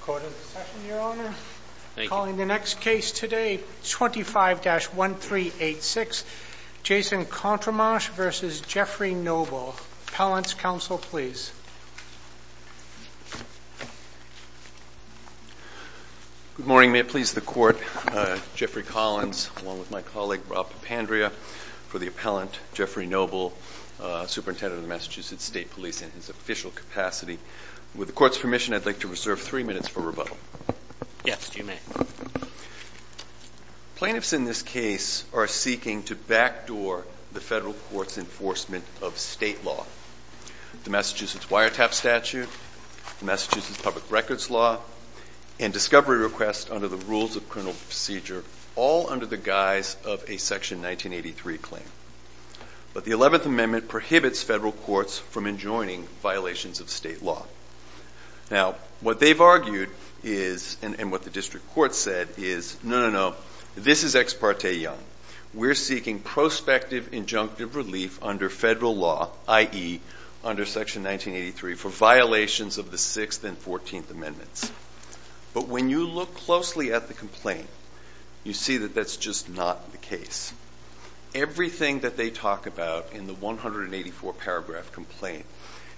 Appellant's counsel, please Good morning. May it please the Court, Jeffrey Noble, Superintendent of the Massachusetts State Police in his official capacity. With the Court's permission, I'd like to reserve three minutes for rebuttal. Yes, you may. Plaintiffs in this case are seeking to backdoor the federal court's enforcement of state law. The Massachusetts Wiretap Statute, the Massachusetts Public Records Law, and discovery requests under the Rules of Criminal Procedure, all under the guise of a Section 1983 claim. But the Eleventh Amendment prohibits federal courts from enjoining violations of state law. Now, what they've argued is, and what the district court said is, no, no, no, this is ex parte young. We're seeking prospective injunctive relief under federal law, i.e., under Section violations of the Sixth and Fourteenth Amendments. But when you look closely at the complaint, you see that that's just not the case. Everything that they talk about in the 184-paragraph complaint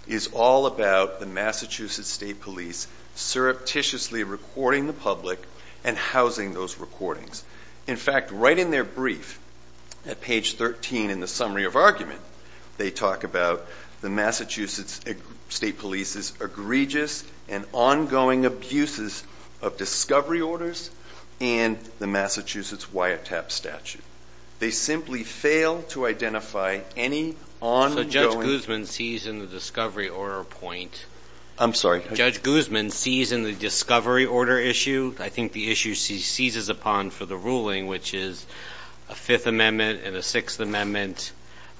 is all about the Massachusetts State Police surreptitiously recording the public and housing those recordings. In fact, right in their brief, at page 13 in the summary of argument, they talk about the Massachusetts State Police's egregious and ongoing abuses of discovery orders and the Massachusetts Wiretap Statute. They simply fail to identify any ongoing... So Judge Guzman sees in the discovery order point... I'm sorry? Judge Guzman sees in the discovery order issue, I think the issue he seizes upon for the ruling, which is a Fifth Amendment and a Sixth Amendment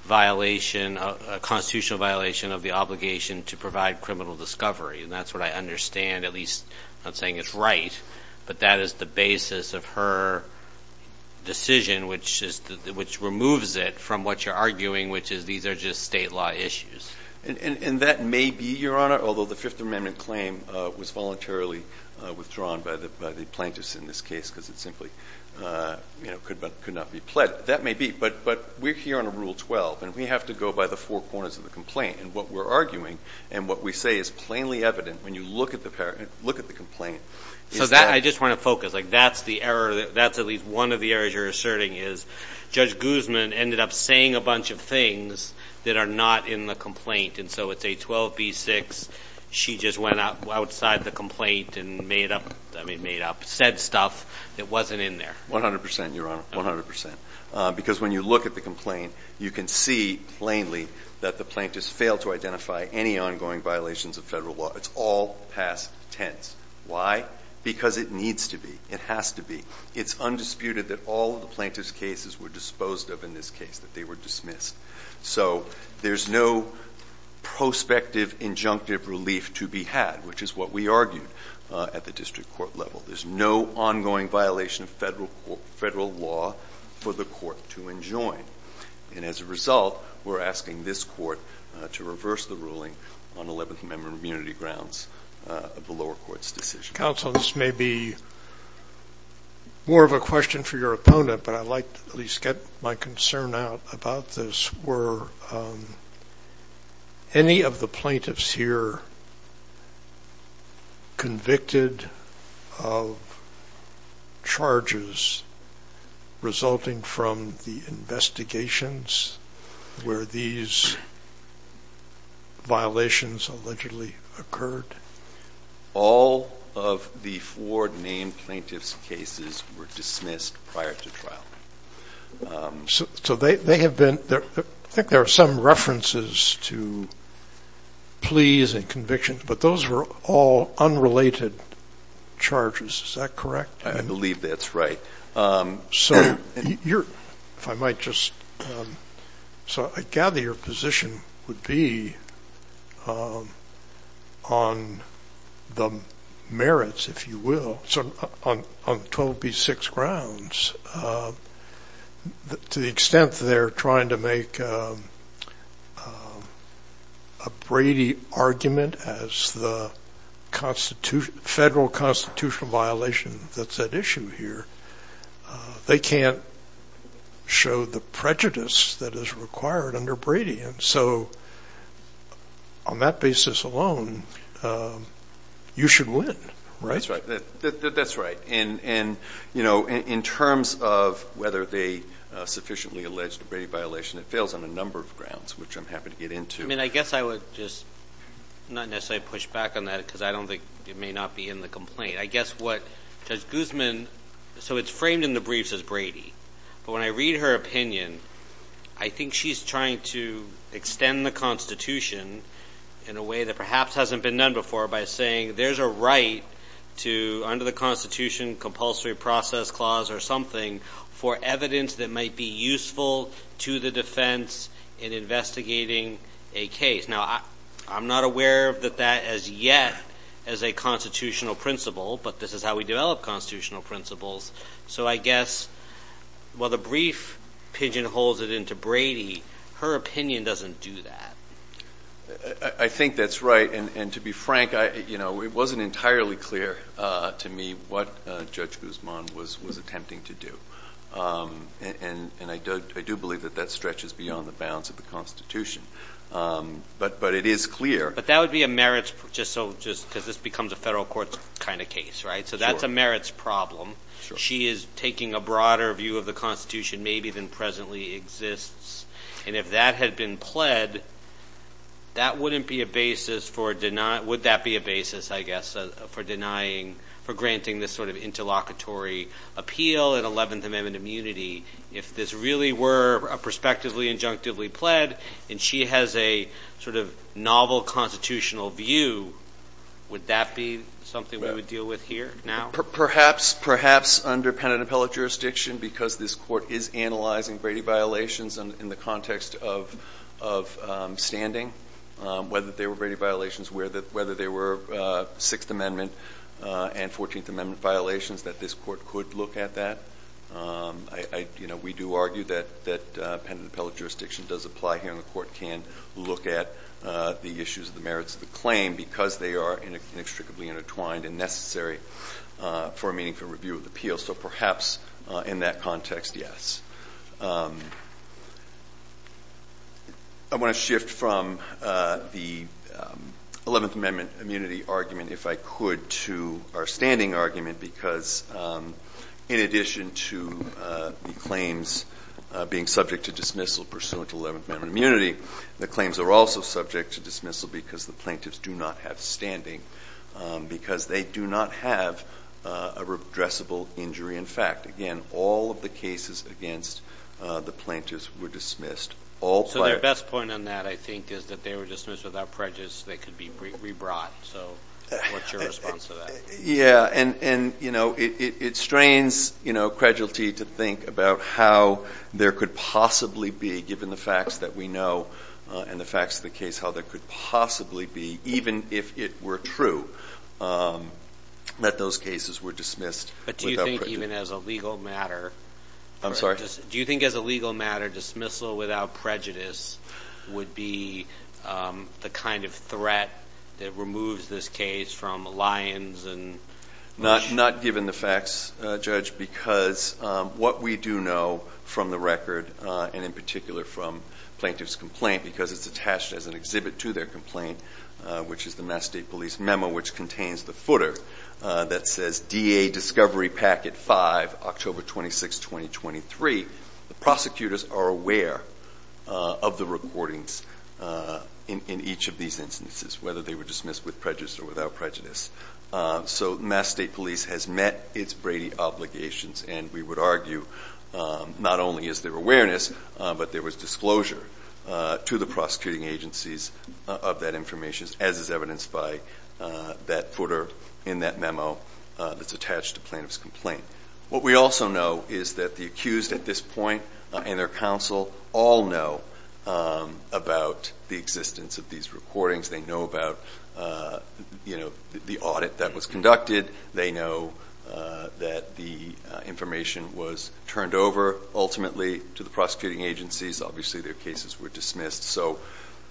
violation, a constitutional violation of the obligation to provide criminal discovery. And that's what I understand, at least not saying it's right, but that is the basis of her decision, which removes it from what you're arguing, which is these are just state law issues. And that may be, Your Honor, although the Fifth Amendment claim was voluntarily withdrawn by the plaintiffs in this case because it simply could not be pledged, that may be. But we're here on a Rule 12, and we have to go by the four corners of the complaint. And what we're arguing and what we say is plainly evident when you look at the complaint is So I just want to focus. That's at least one of the errors you're asserting, is Judge Guzman ended up saying a bunch of things that are not in the complaint. And so it's 812B6, she just went outside the complaint and made up, I mean, made up, said stuff that wasn't in there. One hundred percent, Your Honor. One hundred percent. Because when you look at the complaint, you can see plainly that the plaintiffs failed to identify any ongoing violations of federal law. It's all past tense. Why? Because it needs to be. It has to be. It's undisputed that all of the plaintiffs' cases were disposed of in this case, that they were dismissed. So there's no prospective injunctive relief to be had, which is what we argued at the district court level. There's no ongoing violation of federal law for the court to enjoin. And as a result, we're asking this court to reverse the ruling on 11th Amendment immunity grounds of the lower court's decision. Counsel, this may be more of a question for your opponent, but I'd like to at least get my concern out about this. Were any of the plaintiffs here convicted of charges resulting from the investigations where these violations allegedly occurred? All of the four named plaintiffs' cases were dismissed prior to trial. So they have been. I think there are some references to pleas and convictions, but those were all unrelated charges. Is that correct? I believe that's right. So if I might just. So I gather your position would be on whether or not the plaintiffs can maintain the merits, if you will, on 12B6 grounds to the extent that they're trying to make a Brady argument as the federal constitutional violation that's at issue here. They can't show the prejudice that is required under Brady. So on that basis alone, you should win, right? That's right. And in terms of whether they sufficiently alleged a Brady violation, it fails on a number of grounds, which I'm happy to get into. I guess I would just not necessarily push back on that because I don't think it may not be in the complaint. I guess what Judge Guzman, so it's framed in the briefs as Brady, but when I read her opinion, I think she's trying to extend the constitution in a way that perhaps hasn't been done before by saying there's a right to under the constitution compulsory process clause or something for evidence that might be useful to the defense in investigating a case. Now I'm not aware of that as yet as a constitutional principle, but this is how we develop constitutional principles. So I guess while the brief pigeonholes it into Brady, her opinion doesn't do that. I think that's right. And to be frank, it wasn't entirely clear to me what Judge Guzman was attempting to do. And I do believe that that stretches beyond the bounds of the constitution, but it is clear. But that would be a merits, just so, just because this becomes a federal court kind of case, right? So that's a merits problem. She is taking a broader view of the constitution maybe than presently exists. And if that had been pled, that wouldn't be a basis for, would that be a basis, I guess, for denying, for granting this sort of interlocutory appeal and 11th amendment immunity. If this really were a prospectively injunctively pled and she has a sort of novel constitutional view, would that be something we would deal with here now? Perhaps under pen and appellate jurisdiction, because this court is analyzing Brady violations in the context of standing, whether they were Brady violations, whether they were sixth amendment and 14th amendment violations, that this court could look at that. We do argue that pen and appellate jurisdiction does apply here and the court can look at the issues of the merits of the claim because they are inextricably intertwined and necessary for a meaningful review of the appeal. So perhaps in that context, yes. I want to shift from the 11th amendment immunity argument, if I could, to our standing argument, because in addition to the claims being subject to dismissal pursuant to 11th amendment immunity, the claims are also subject to dismissal because the plaintiffs do not have standing, because they do not have a redressable injury. In fact, again, all of the cases against the plaintiffs were dismissed. So their best point on that, I think, is that they were dismissed without prejudice. They could be rebrought. So what's your response to that? Yeah. And, you know, it strains, you know, credulity to think about how there could possibly be, given the facts that we know and the facts of the case, how there could possibly be, even if it were true, that those cases were dismissed without prejudice. But do you think even as a legal matter, do you think as a legal matter, dismissal without prejudice would be the kind of threat that removes this case from lions and... Not given the facts, Judge, because what we do know from the record, and in particular from plaintiff's complaint, because it's attached as an exhibit to their complaint, which is the Mass State Police memo, which contains the footer that says, DA Discovery Packet 5, October 26, 2023, the prosecutors are aware of the recordings in each of these instances, whether they were dismissed with prejudice or without prejudice. So Mass State Police has met its Brady obligations, and we would argue not only is there awareness, but there was disclosure to the prosecuting agencies of that information, as is evidenced by that footer in that memo that's attached to plaintiff's complaint. What we also know is that the accused at this point and their counsel all know about the existence of these recordings. They know about the audit that was conducted. They know that the information was turned over, ultimately, to the prosecuting agencies. Obviously, their cases were dismissed, so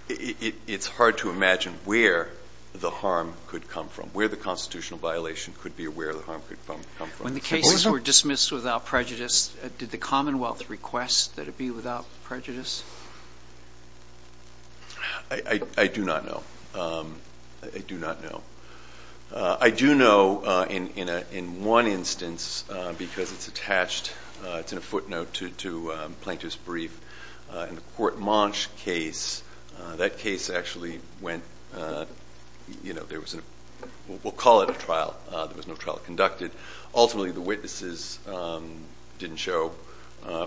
it's hard to imagine where the harm could come from, where the constitutional violation could be, where the harm could come from. When the cases were dismissed without prejudice, did the Commonwealth request that it be without prejudice? I do not know. I do not know. I do know in one instance, because it's attached, it's a footnote to Plaintiff's Brief, in the Court Monch case, that case actually went, you know, there was a, we'll call it a trial. There was no trial conducted. Ultimately, the witnesses didn't show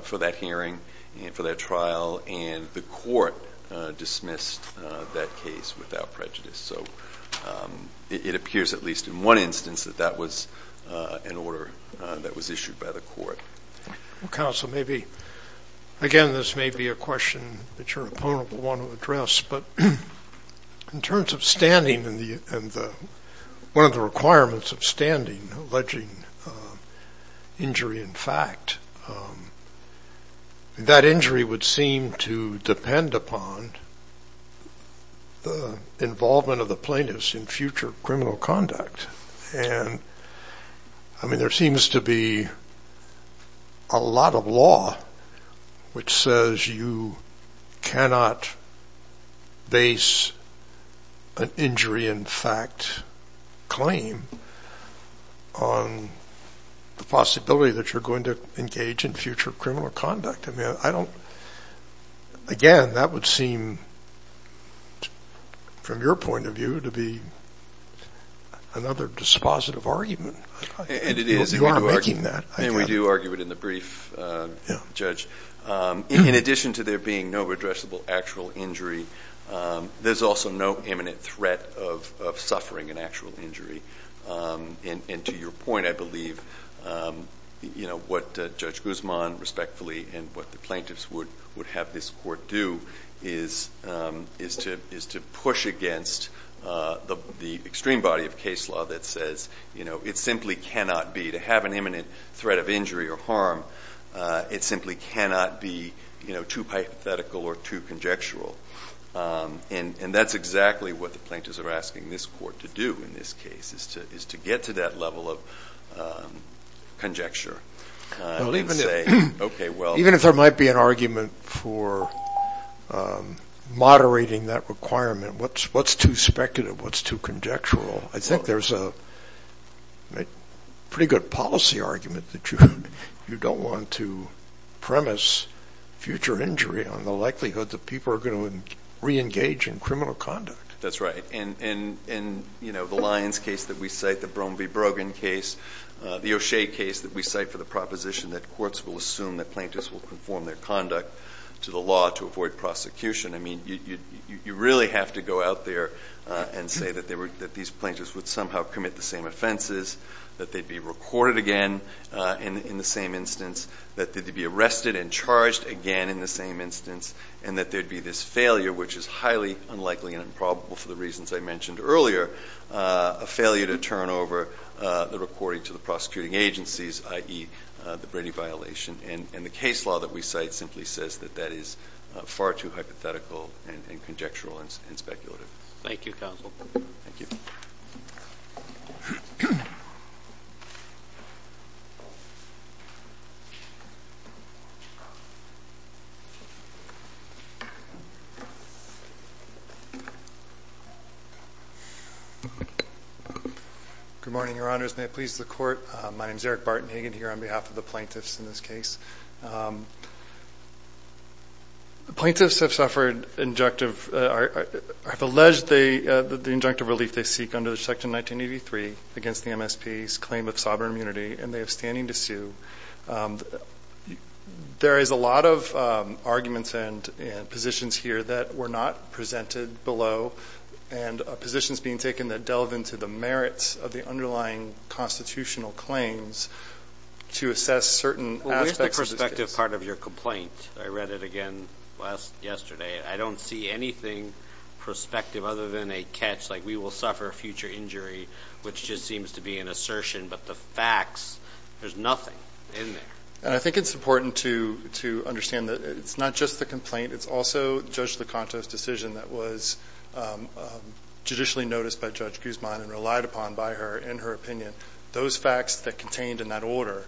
for that hearing and for that trial, and the court dismissed that case without prejudice. So it appears, at least in one instance, that that was an order that was issued by the court. Well, Counsel, maybe, again, this may be a question that your opponent will want to address, but in terms of standing and the, one of the requirements of standing, alleging injury in fact, that injury would seem to depend upon the involvement of the plaintiffs in a lot of law, which says you cannot base an injury in fact claim on the possibility that you're going to engage in future criminal conduct. I mean, I don't, again, that would seem, from your point of view, to be another dispositive argument. And it is. You are making that. And we do argue it in the brief, Judge. In addition to there being no redressable actual injury, there's also no imminent threat of suffering an actual injury. And to your point, I believe, you know, what Judge Guzman, respectfully, and what the plaintiffs would have this court do is to push against the extreme body of case law that says, you know, it simply cannot be, to have an imminent threat of injury or harm, it simply cannot be, you know, too hypothetical or too conjectural. And that's exactly what the plaintiffs are asking this court to do in this case, is to get to that level of conjecture and say, okay, well. Even if there might be an argument for moderating that requirement, what's too speculative, what's too conjectural, I think there's a pretty good policy argument that you don't want to premise future injury on the likelihood that people are going to reengage in criminal conduct. That's right. And, you know, the Lyons case that we cite, the Bromby-Brogan case, the O'Shea case that we cite for the proposition that courts will assume that plaintiffs will conform their conduct to the law to avoid prosecution. I mean, you really have to go out there and say that these plaintiffs would somehow commit the same offenses, that they'd be recorded again in the same instance, that they'd be arrested and charged again in the same instance, and that there'd be this failure, which is highly unlikely and improbable for the reasons I mentioned earlier, a failure to turn over the recording to the prosecuting agencies, i.e. the Brady violation. And the case law that we cite simply says that that is far too hypothetical and conjectural and speculative. Thank you, counsel. Thank you. Good morning, Your Honors. May it please the Court? My name is Eric Barton Hagan here on behalf of the plaintiffs in this case. Plaintiffs have alleged the injunctive relief they seek under Section 1983 against the MSP's claim of sovereign immunity, and they have standing to sue. There is a lot of arguments and positions here that were not presented below, and positions being taken that delve into the merits of the underlying constitutional claims to assess certain aspects of this case. Well, where's the prospective part of your complaint? I read it again yesterday. I don't see anything prospective other than a catch like, we will suffer future injury, which just seems to be an assertion. But the facts, there's nothing in there. I think it's important to understand that it's not just the complaint. It's also Judge that was judicially noticed by Judge Guzman and relied upon by her in her opinion. Those facts that contained in that order,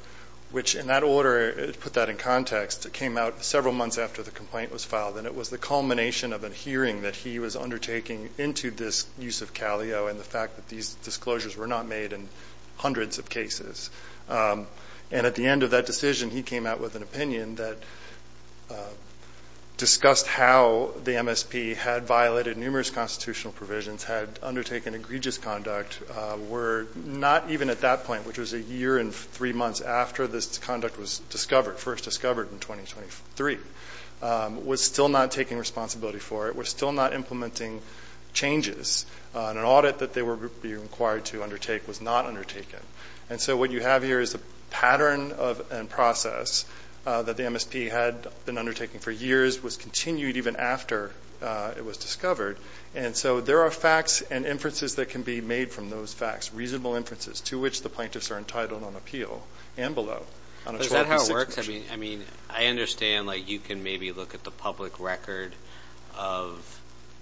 which in that order, put that in context, came out several months after the complaint was filed. And it was the culmination of a hearing that he was undertaking into this use of Calio and the fact that these disclosures were not made in hundreds of cases. And at the end of that decision, he came out with an opinion that discussed how the MSP had violated numerous constitutional provisions, had undertaken egregious conduct, were not even at that point, which was a year and three months after this conduct was discovered, first discovered in 2023, was still not taking responsibility for it, was still not implementing changes, and an audit that they were being required to undertake was not undertaken. And so what you have here is a pattern of a process that the MSP had been undertaking for years, was continued even after it was discovered. And so there are facts and inferences that can be made from those facts, reasonable inferences, to which the plaintiffs are entitled on appeal and below. Is that how it works? I mean, I understand like you can maybe look at the public record of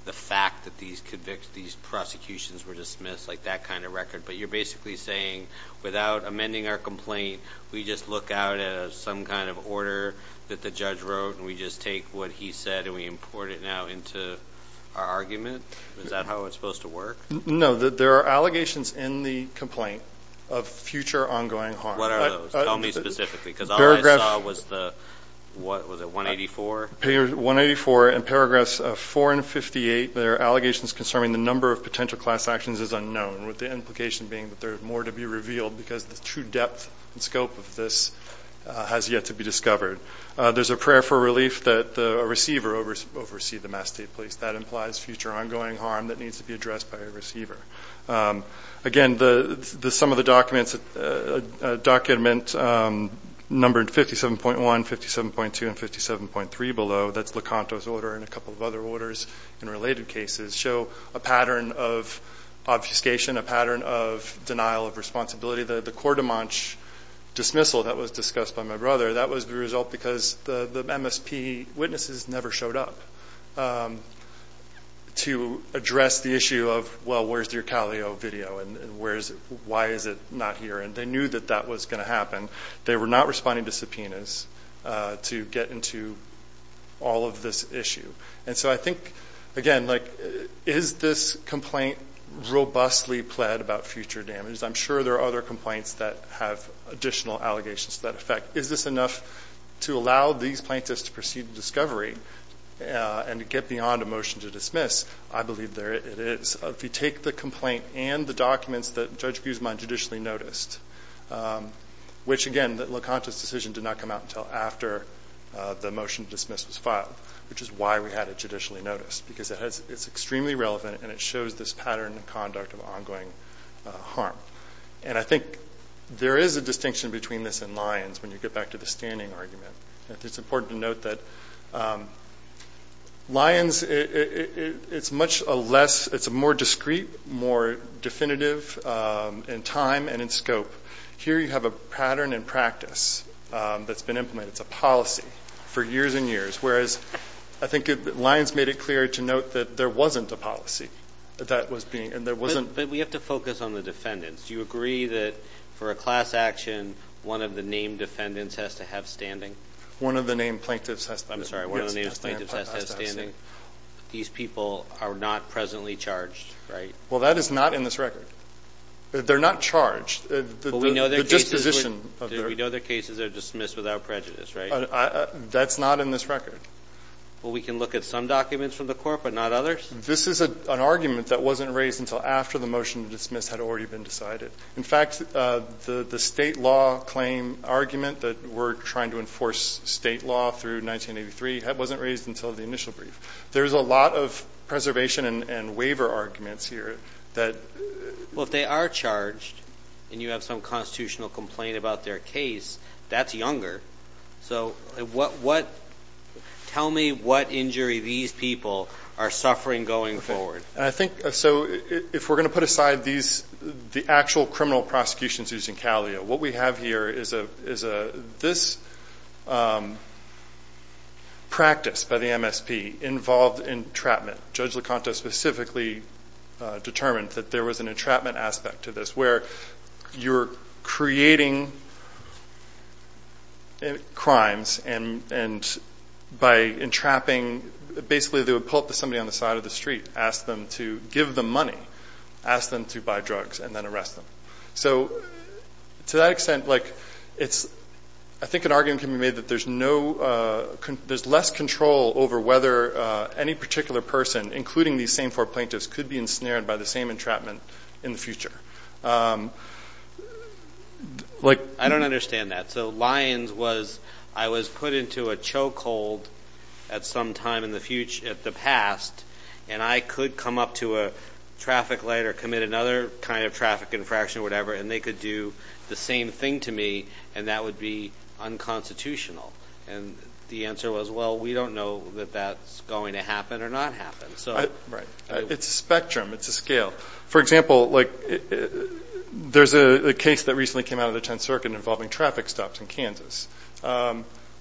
the fact that these prosecutions were dismissed, like that kind of record, but you're basically saying without amending our complaint, we just look out at some kind of order that the judge wrote and we just take what he said and we import it now into our argument? Is that how it's supposed to work? No. There are allegations in the complaint of future ongoing harm. What are those? Tell me specifically, because all I saw was the, what was it, 184? 184 and paragraphs 4 and 58, there are allegations concerning the number of potential class actions is unknown, with the implication being that there's more to be revealed because the true depth and scope of this has yet to be discovered. There's a prayer for relief that a receiver oversee the Mass State Police. That implies future ongoing harm that needs to be addressed by a receiver. Again, some of the documents, a document numbered 57.1, 57.2, and 57.3 below, that's LeConte's order and a couple of other orders in related cases, show a pattern of obfuscation, a pattern of denial of responsibility. The Cordon Manche dismissal that was discussed by my brother, that was the result because the MSP witnesses never showed up to address the issue of, well, where's your Calio video and why is it not here? And they knew that that was going to happen. They were not responding to subpoenas to get into all of this issue. And so I think, again, is this complaint robustly pled about future damage? I'm sure there are other complaints that have additional allegations to that effect. Is this enough to allow these plaintiffs to proceed to discovery and to get beyond a motion to dismiss? I believe there it is. If you take the complaint and the documents that Judge Guzman judicially noticed, which again, LeConte's decision did not come out until after the motion to dismiss was filed, which is why we had it judicially noticed, because it's extremely relevant and it shows this pattern of conduct of ongoing harm. And I think there is a distinction between this and Lyons when you get back to the standing argument. It's important to note that Lyons, it's much less, it's more discreet, more definitive in time and in scope. Here you have a pattern and practice that's been implemented. It's a policy for years and years, whereas I think Lyons made it clear to note that there wasn't a policy that that was being, and there wasn't. But we have to focus on the defendants. Do you agree that for a class action, one of the named defendants has to have standing? One of the named plaintiffs has to have standing. These people are not presently charged, right? Well, that is not in this record. They're not charged. We know their cases are dismissed without prejudice, right? That's not in this record. Well, we can look at some documents from the court, but not others? This is an argument that wasn't raised until after the motion to dismiss had already been decided. In fact, the state law claim argument that we're trying to enforce state law through 1983, that wasn't raised until the initial brief. There's a lot of preservation and waiver arguments here that... Well, if they are charged and you have some constitutional complaint about their case, that's younger. So what, what, tell me what injury these people are suffering going forward. I think, so if we're going to put aside these, the actual criminal prosecutions using Calio, what we have here is a, is a, this practice by the MSP involved entrapment. Judge Licata specifically determined that there was an entrapment aspect to this, where you're creating crimes and, and by entrapping, basically they would pull up to somebody on the side of the street, ask them to give them money, ask them to buy drugs and then arrest them. So to that extent, like it's, I think an argument can be made that there's no, there's less control over whether any particular person, including these same four plaintiffs, could be ensnared by the same entrapment in the future. Like I don't understand that. So Lyons was, I was put into a chokehold at some time in the future, at the past, and I could come up to a traffic light or commit another kind of traffic infraction or whatever, and they could do the same thing to me, and that would be unconstitutional. And the answer was, well, we don't know that that's going to happen or not happen. So, right. It's a spectrum. It's a scale. For example, like there's a case that recently came out of the Tenth Circuit involving traffic stops in Kansas,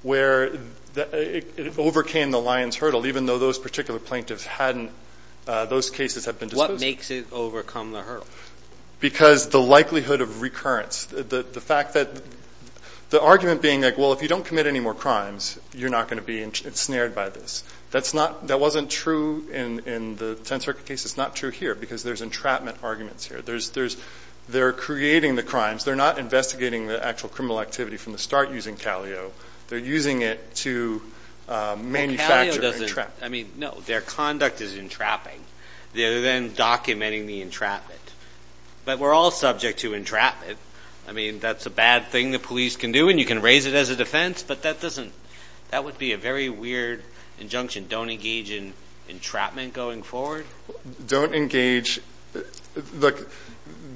where it overcame the Lyons hurdle, even though those particular plaintiffs hadn't, those cases had been disposed of. What makes it overcome the hurdle? Because the likelihood of recurrence, the fact that, the argument being like, well, if you don't commit any more crimes, you're not going to be ensnared by this. That's not, that wasn't true in the Tenth Circuit case. It's not true here because there's entrapment arguments here. There's, there's, they're creating the crimes. They're not investigating the actual criminal activity from the start using Calio. They're using it to manufacture and entrap. Calio doesn't, I mean, no, their conduct is entrapping. They're then documenting the entrapment. But we're all subject to entrapment. I mean, that's a bad thing the police can do, and you can raise it as a defense, but that doesn't, that would be a very weird injunction. Don't engage in entrapment going forward? Don't engage, look,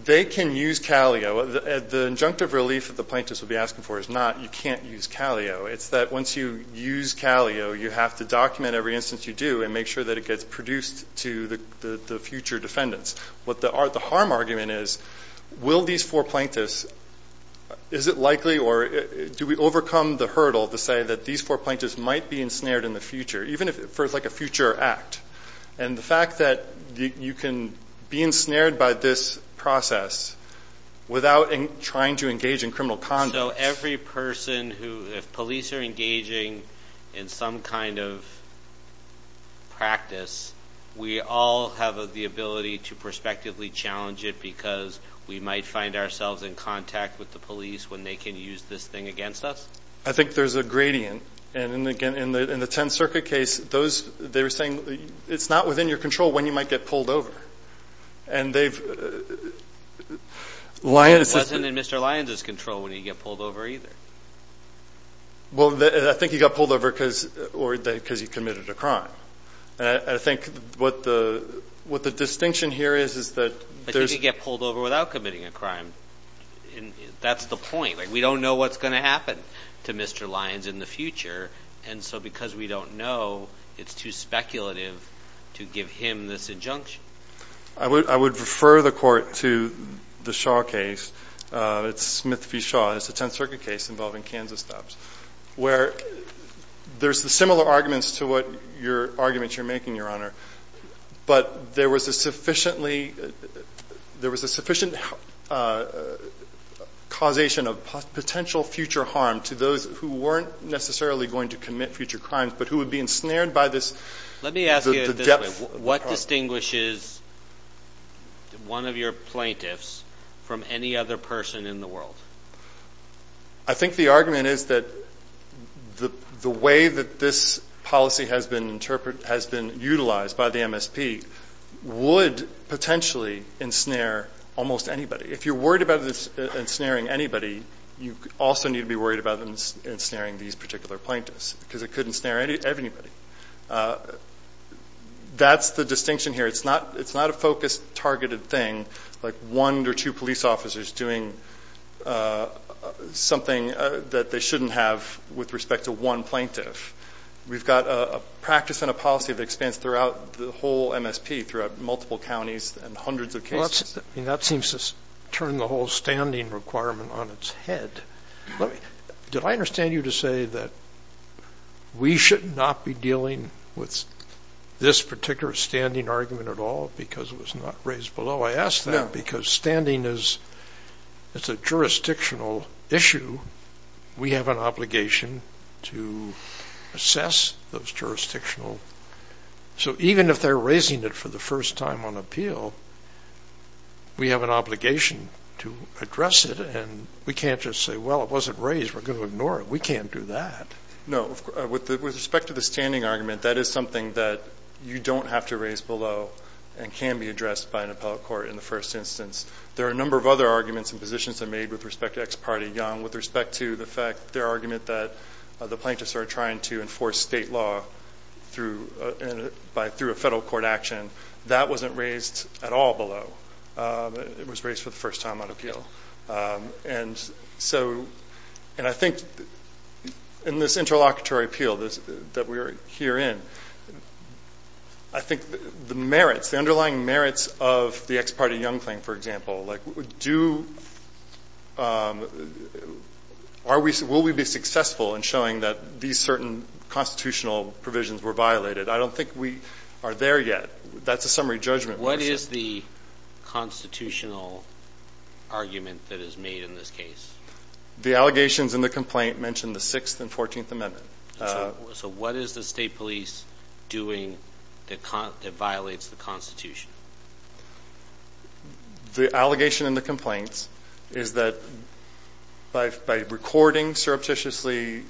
they can use Calio. The injunctive relief that the plaintiffs would be asking for is not, you can't use Calio. It's that once you use Calio, you have to document every instance you do and make sure that it gets produced to the future defendants. What the harm argument is, will these four plaintiffs, is it likely, or do we overcome the hurdle to say that these four plaintiffs might be ensnared in the future, even if, for like a future act? And the fact that you can be ensnared by this process without trying to engage in criminal conduct. So every person who, if police are engaging in some kind of practice, we all have the ability to prospectively challenge it because we might find ourselves in contact with the police when they can use this thing against us? I think there's a gradient. And again, in the 10th Circuit case, they were saying it's not within your control when you might get pulled over. And they've, Lyons is- It wasn't in Mr. Lyons' control when he got pulled over either. Well, I think he got pulled over because he committed a crime. I think what the distinction here is, is that- I think he got pulled over without committing a crime. That's the point. We don't know what's going to happen to Mr. Lyons in the future. And so because we don't know, it's too speculative to give him this injunction. I would refer the court to the Shaw case. It's Smith v. Shaw. It's a 10th Circuit case involving Kansas cops, where there's the similar arguments to what your arguments you're making, Your Honor. But there was a sufficient causation of potential future harm to those who weren't necessarily going to commit future crimes, but who would be ensnared by this- Let me ask you this way. What distinguishes one of your plaintiffs from any other person in the world? I think the argument is that the way that this policy has been utilized by the MSP would potentially ensnare almost anybody. If you're worried about ensnaring anybody, you also need to be worried about ensnaring these particular plaintiffs, because it could ensnare anybody. That's the distinction here. It's not a focused, targeted thing, like one or two police officers doing something that they shouldn't have with respect to one plaintiff. We've got a practice and a policy that expands throughout the whole MSP, throughout multiple counties and hundreds of cases. That seems to turn the whole standing requirement on its head. Did I understand you to say that we should not be dealing with this particular standing argument at all because it was not raised below? I ask that because standing is a jurisdictional issue. We have an obligation to assess those jurisdictional... Even if they're raising it for the first time on appeal, we have an obligation to address it. We can't just say, well, it wasn't raised. We're going to ignore it. We can't do that. No. With respect to the standing argument, that is something that you don't have to raise below and can be addressed by an appellate court in the first instance. There are a number of other arguments and positions that are made with respect to Ex Parte Young. With respect to the fact, their argument that the plaintiffs are trying to enforce state law through a federal court action, that wasn't raised at all below. It was raised for the first time on appeal. I think in this interlocutory appeal that we are here in, I think the underlying merits of the Ex Parte Young claim, for example, will we be successful in showing that these certain constitutional provisions were violated? I don't think we are there yet. That's a summary judgment. What is the constitutional argument that is made in this case? The allegations in the complaint mention the 6th and 14th Amendment. What is the state police doing that violates the Constitution? The allegation in the complaints is that by recording surreptitiously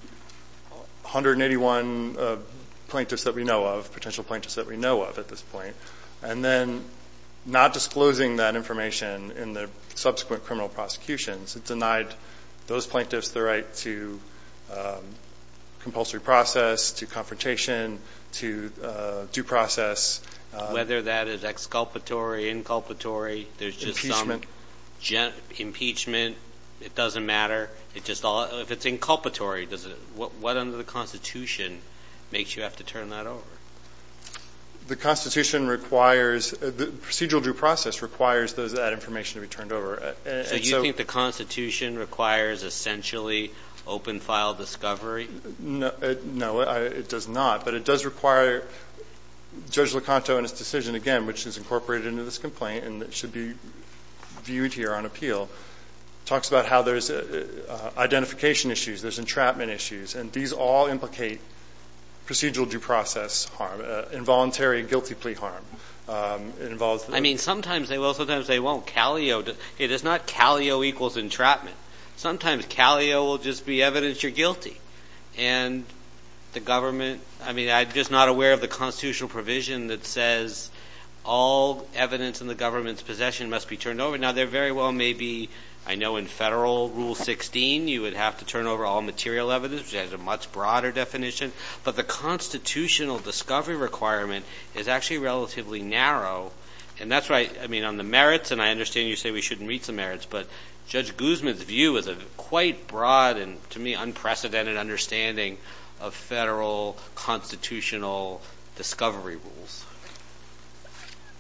181 plaintiffs that we know of, potential plaintiffs that we know of at this point, and then not disclosing that information in the subsequent criminal prosecutions, it denied those plaintiffs the right to compulsory process, to confrontation, to due process. Whether that is exculpatory, inculpatory, there's just some impeachment, it doesn't matter. If it's inculpatory, what under the Constitution makes you have to turn that over? The Constitution requires, the procedural due process requires that information to be turned over. So you think the Constitution requires essentially open-file discovery? No, it does not. But it does require, Judge Locanto in his decision, again, which is incorporated into this complaint and should be viewed here on appeal, talks about how there's identification issues, there's entrapment issues, and these all implicate procedural due process harm, involuntary guilty plea harm. I mean, sometimes they will, sometimes they won't. It is not calio equals entrapment. Sometimes calio will just be evidence you're guilty. And the government, I mean, I'm just not aware of the Constitutional provision that says all evidence in the government's possession must be turned over. Now, there very well may be, I know in federal Rule 16, you would have to turn over all material evidence, which has a much broader definition. But the constitutional discovery requirement is actually relatively narrow. And that's why, I mean, on the merits, and I understand you say we shouldn't read the merits, but Judge Guzman's view is a quite broad and, to me, unprecedented understanding of federal constitutional discovery rules.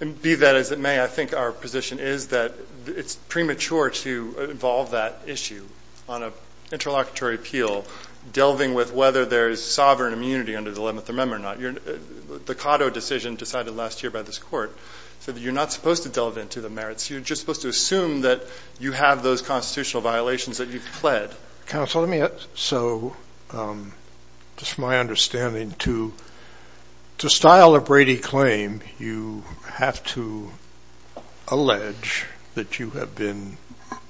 And be that as it may, I think our position is that it's premature to involve that issue on an interlocutory appeal, delving with whether there is sovereign immunity under the 11th Amendment or not. The Cotto decision decided last year by this court said that you're not supposed to delve into the merits. You're just supposed to assume that you have those constitutional violations that you've pled. Counsel, let me ask. So, just my understanding, to style a Brady claim, you have to allege that you have been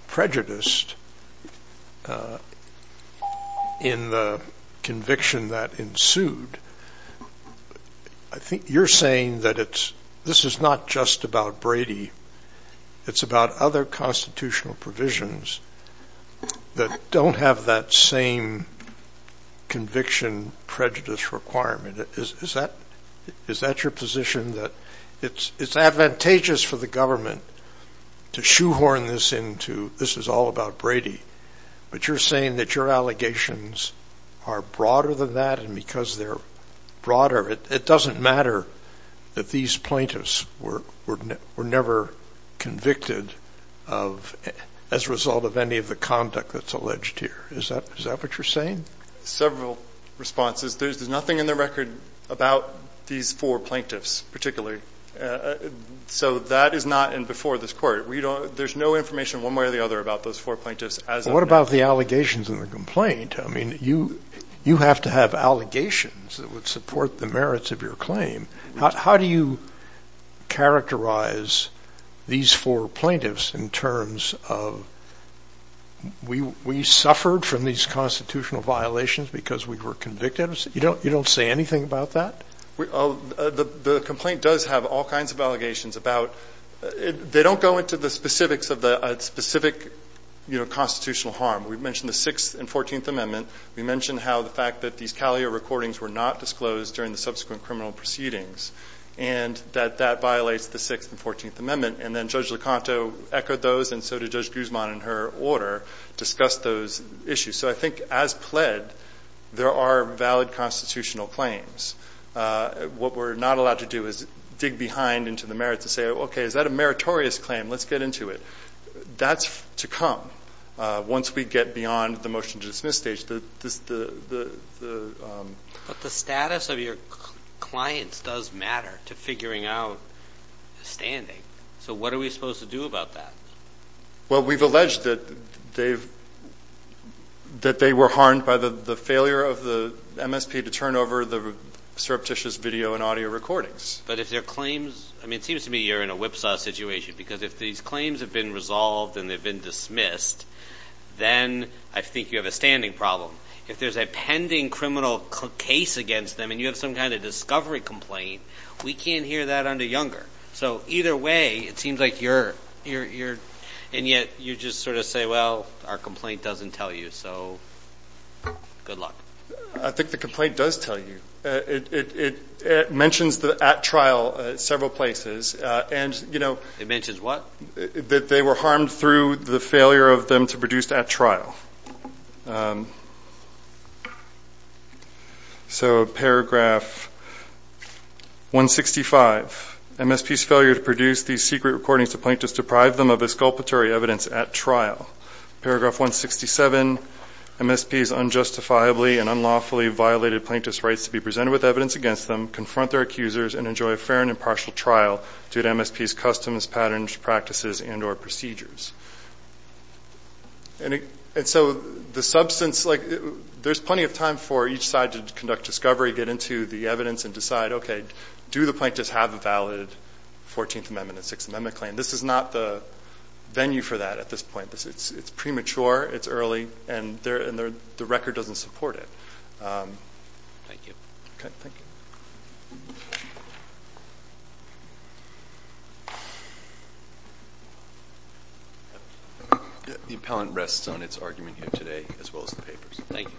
prejudiced in the conviction that ensued. I think you're saying that it's, this is not just about Brady. It's about other constitutional provisions that don't have that same conviction prejudice requirement. Is that your position, that it's advantageous for the government to shoehorn this into, this is all about Brady, but you're saying that your allegations are broader than that, and because they're broader, it doesn't matter that these plaintiffs were never convicted as a result of any of the conduct that's alleged here. Is that what you're saying? Several responses. There's nothing in the record about these four plaintiffs, particularly. So, that is not in before this court. We don't, there's no information one way or the other about those four plaintiffs as of now. What about the allegations in the complaint? I mean, you have to have allegations that would support the merits of your claim. How do you characterize these four plaintiffs in terms of, we suffered from these constitutional violations because we were convicted? You don't say anything about that? The complaint does have all kinds of allegations about, they don't go into the specifics of the specific constitutional harm. We've mentioned the 6th and 14th Amendment. We mentioned how the fact that these Calio recordings were not disclosed during the subsequent criminal proceedings, and that that violates the 6th and 14th Amendment, and then Judge Locanto echoed those, and so did Judge Guzman in her order, discussed those issues. So, I think as pled, there are valid constitutional claims. What we're not allowed to do is dig behind into the merits and say, okay, is that a meritorious claim? Let's get into it. That's to come once we get beyond the motion to dismiss stage. The status of your clients does matter to figuring out the standing. So, what are we supposed to do about that? Well, we've alleged that they were harmed by the failure of the MSP to turn over the surreptitious video and audio recordings. But if their claims, I mean, it seems to me you're in a whipsaw situation, because if these claims have been resolved and they've been dismissed, then I think you have a standing problem. If there's a pending criminal case against them and you have some kind of discovery complaint, we can't hear that under Younger. So, either way, it seems like you're, and yet you just sort of say, well, our complaint doesn't tell you. So, good luck. I think the complaint does tell you. It mentions the at-trial at several places, and you know It mentions what? They were harmed through the failure of them to produce at-trial. So, paragraph 165, MSP's failure to produce these secret recordings to plaintiffs deprived them of exculpatory evidence at trial. Paragraph 167, MSP's unjustifiably and unlawfully violated plaintiffs' rights to be presented with evidence against them, confront their accusers, and enjoy a fair and impartial trial due to MSP's customs, patterns, practices, and or procedures. And so, the substance, like, there's plenty of time for each side to conduct discovery, get into the evidence, and decide, okay, do the plaintiffs have a valid 14th Amendment and 6th Amendment claim? This is not the venue for that at this point. It's premature. It's early, and the record doesn't support it. Thank you. Okay, thank you. The appellant rests on its argument here today, as well as the papers. Thank you.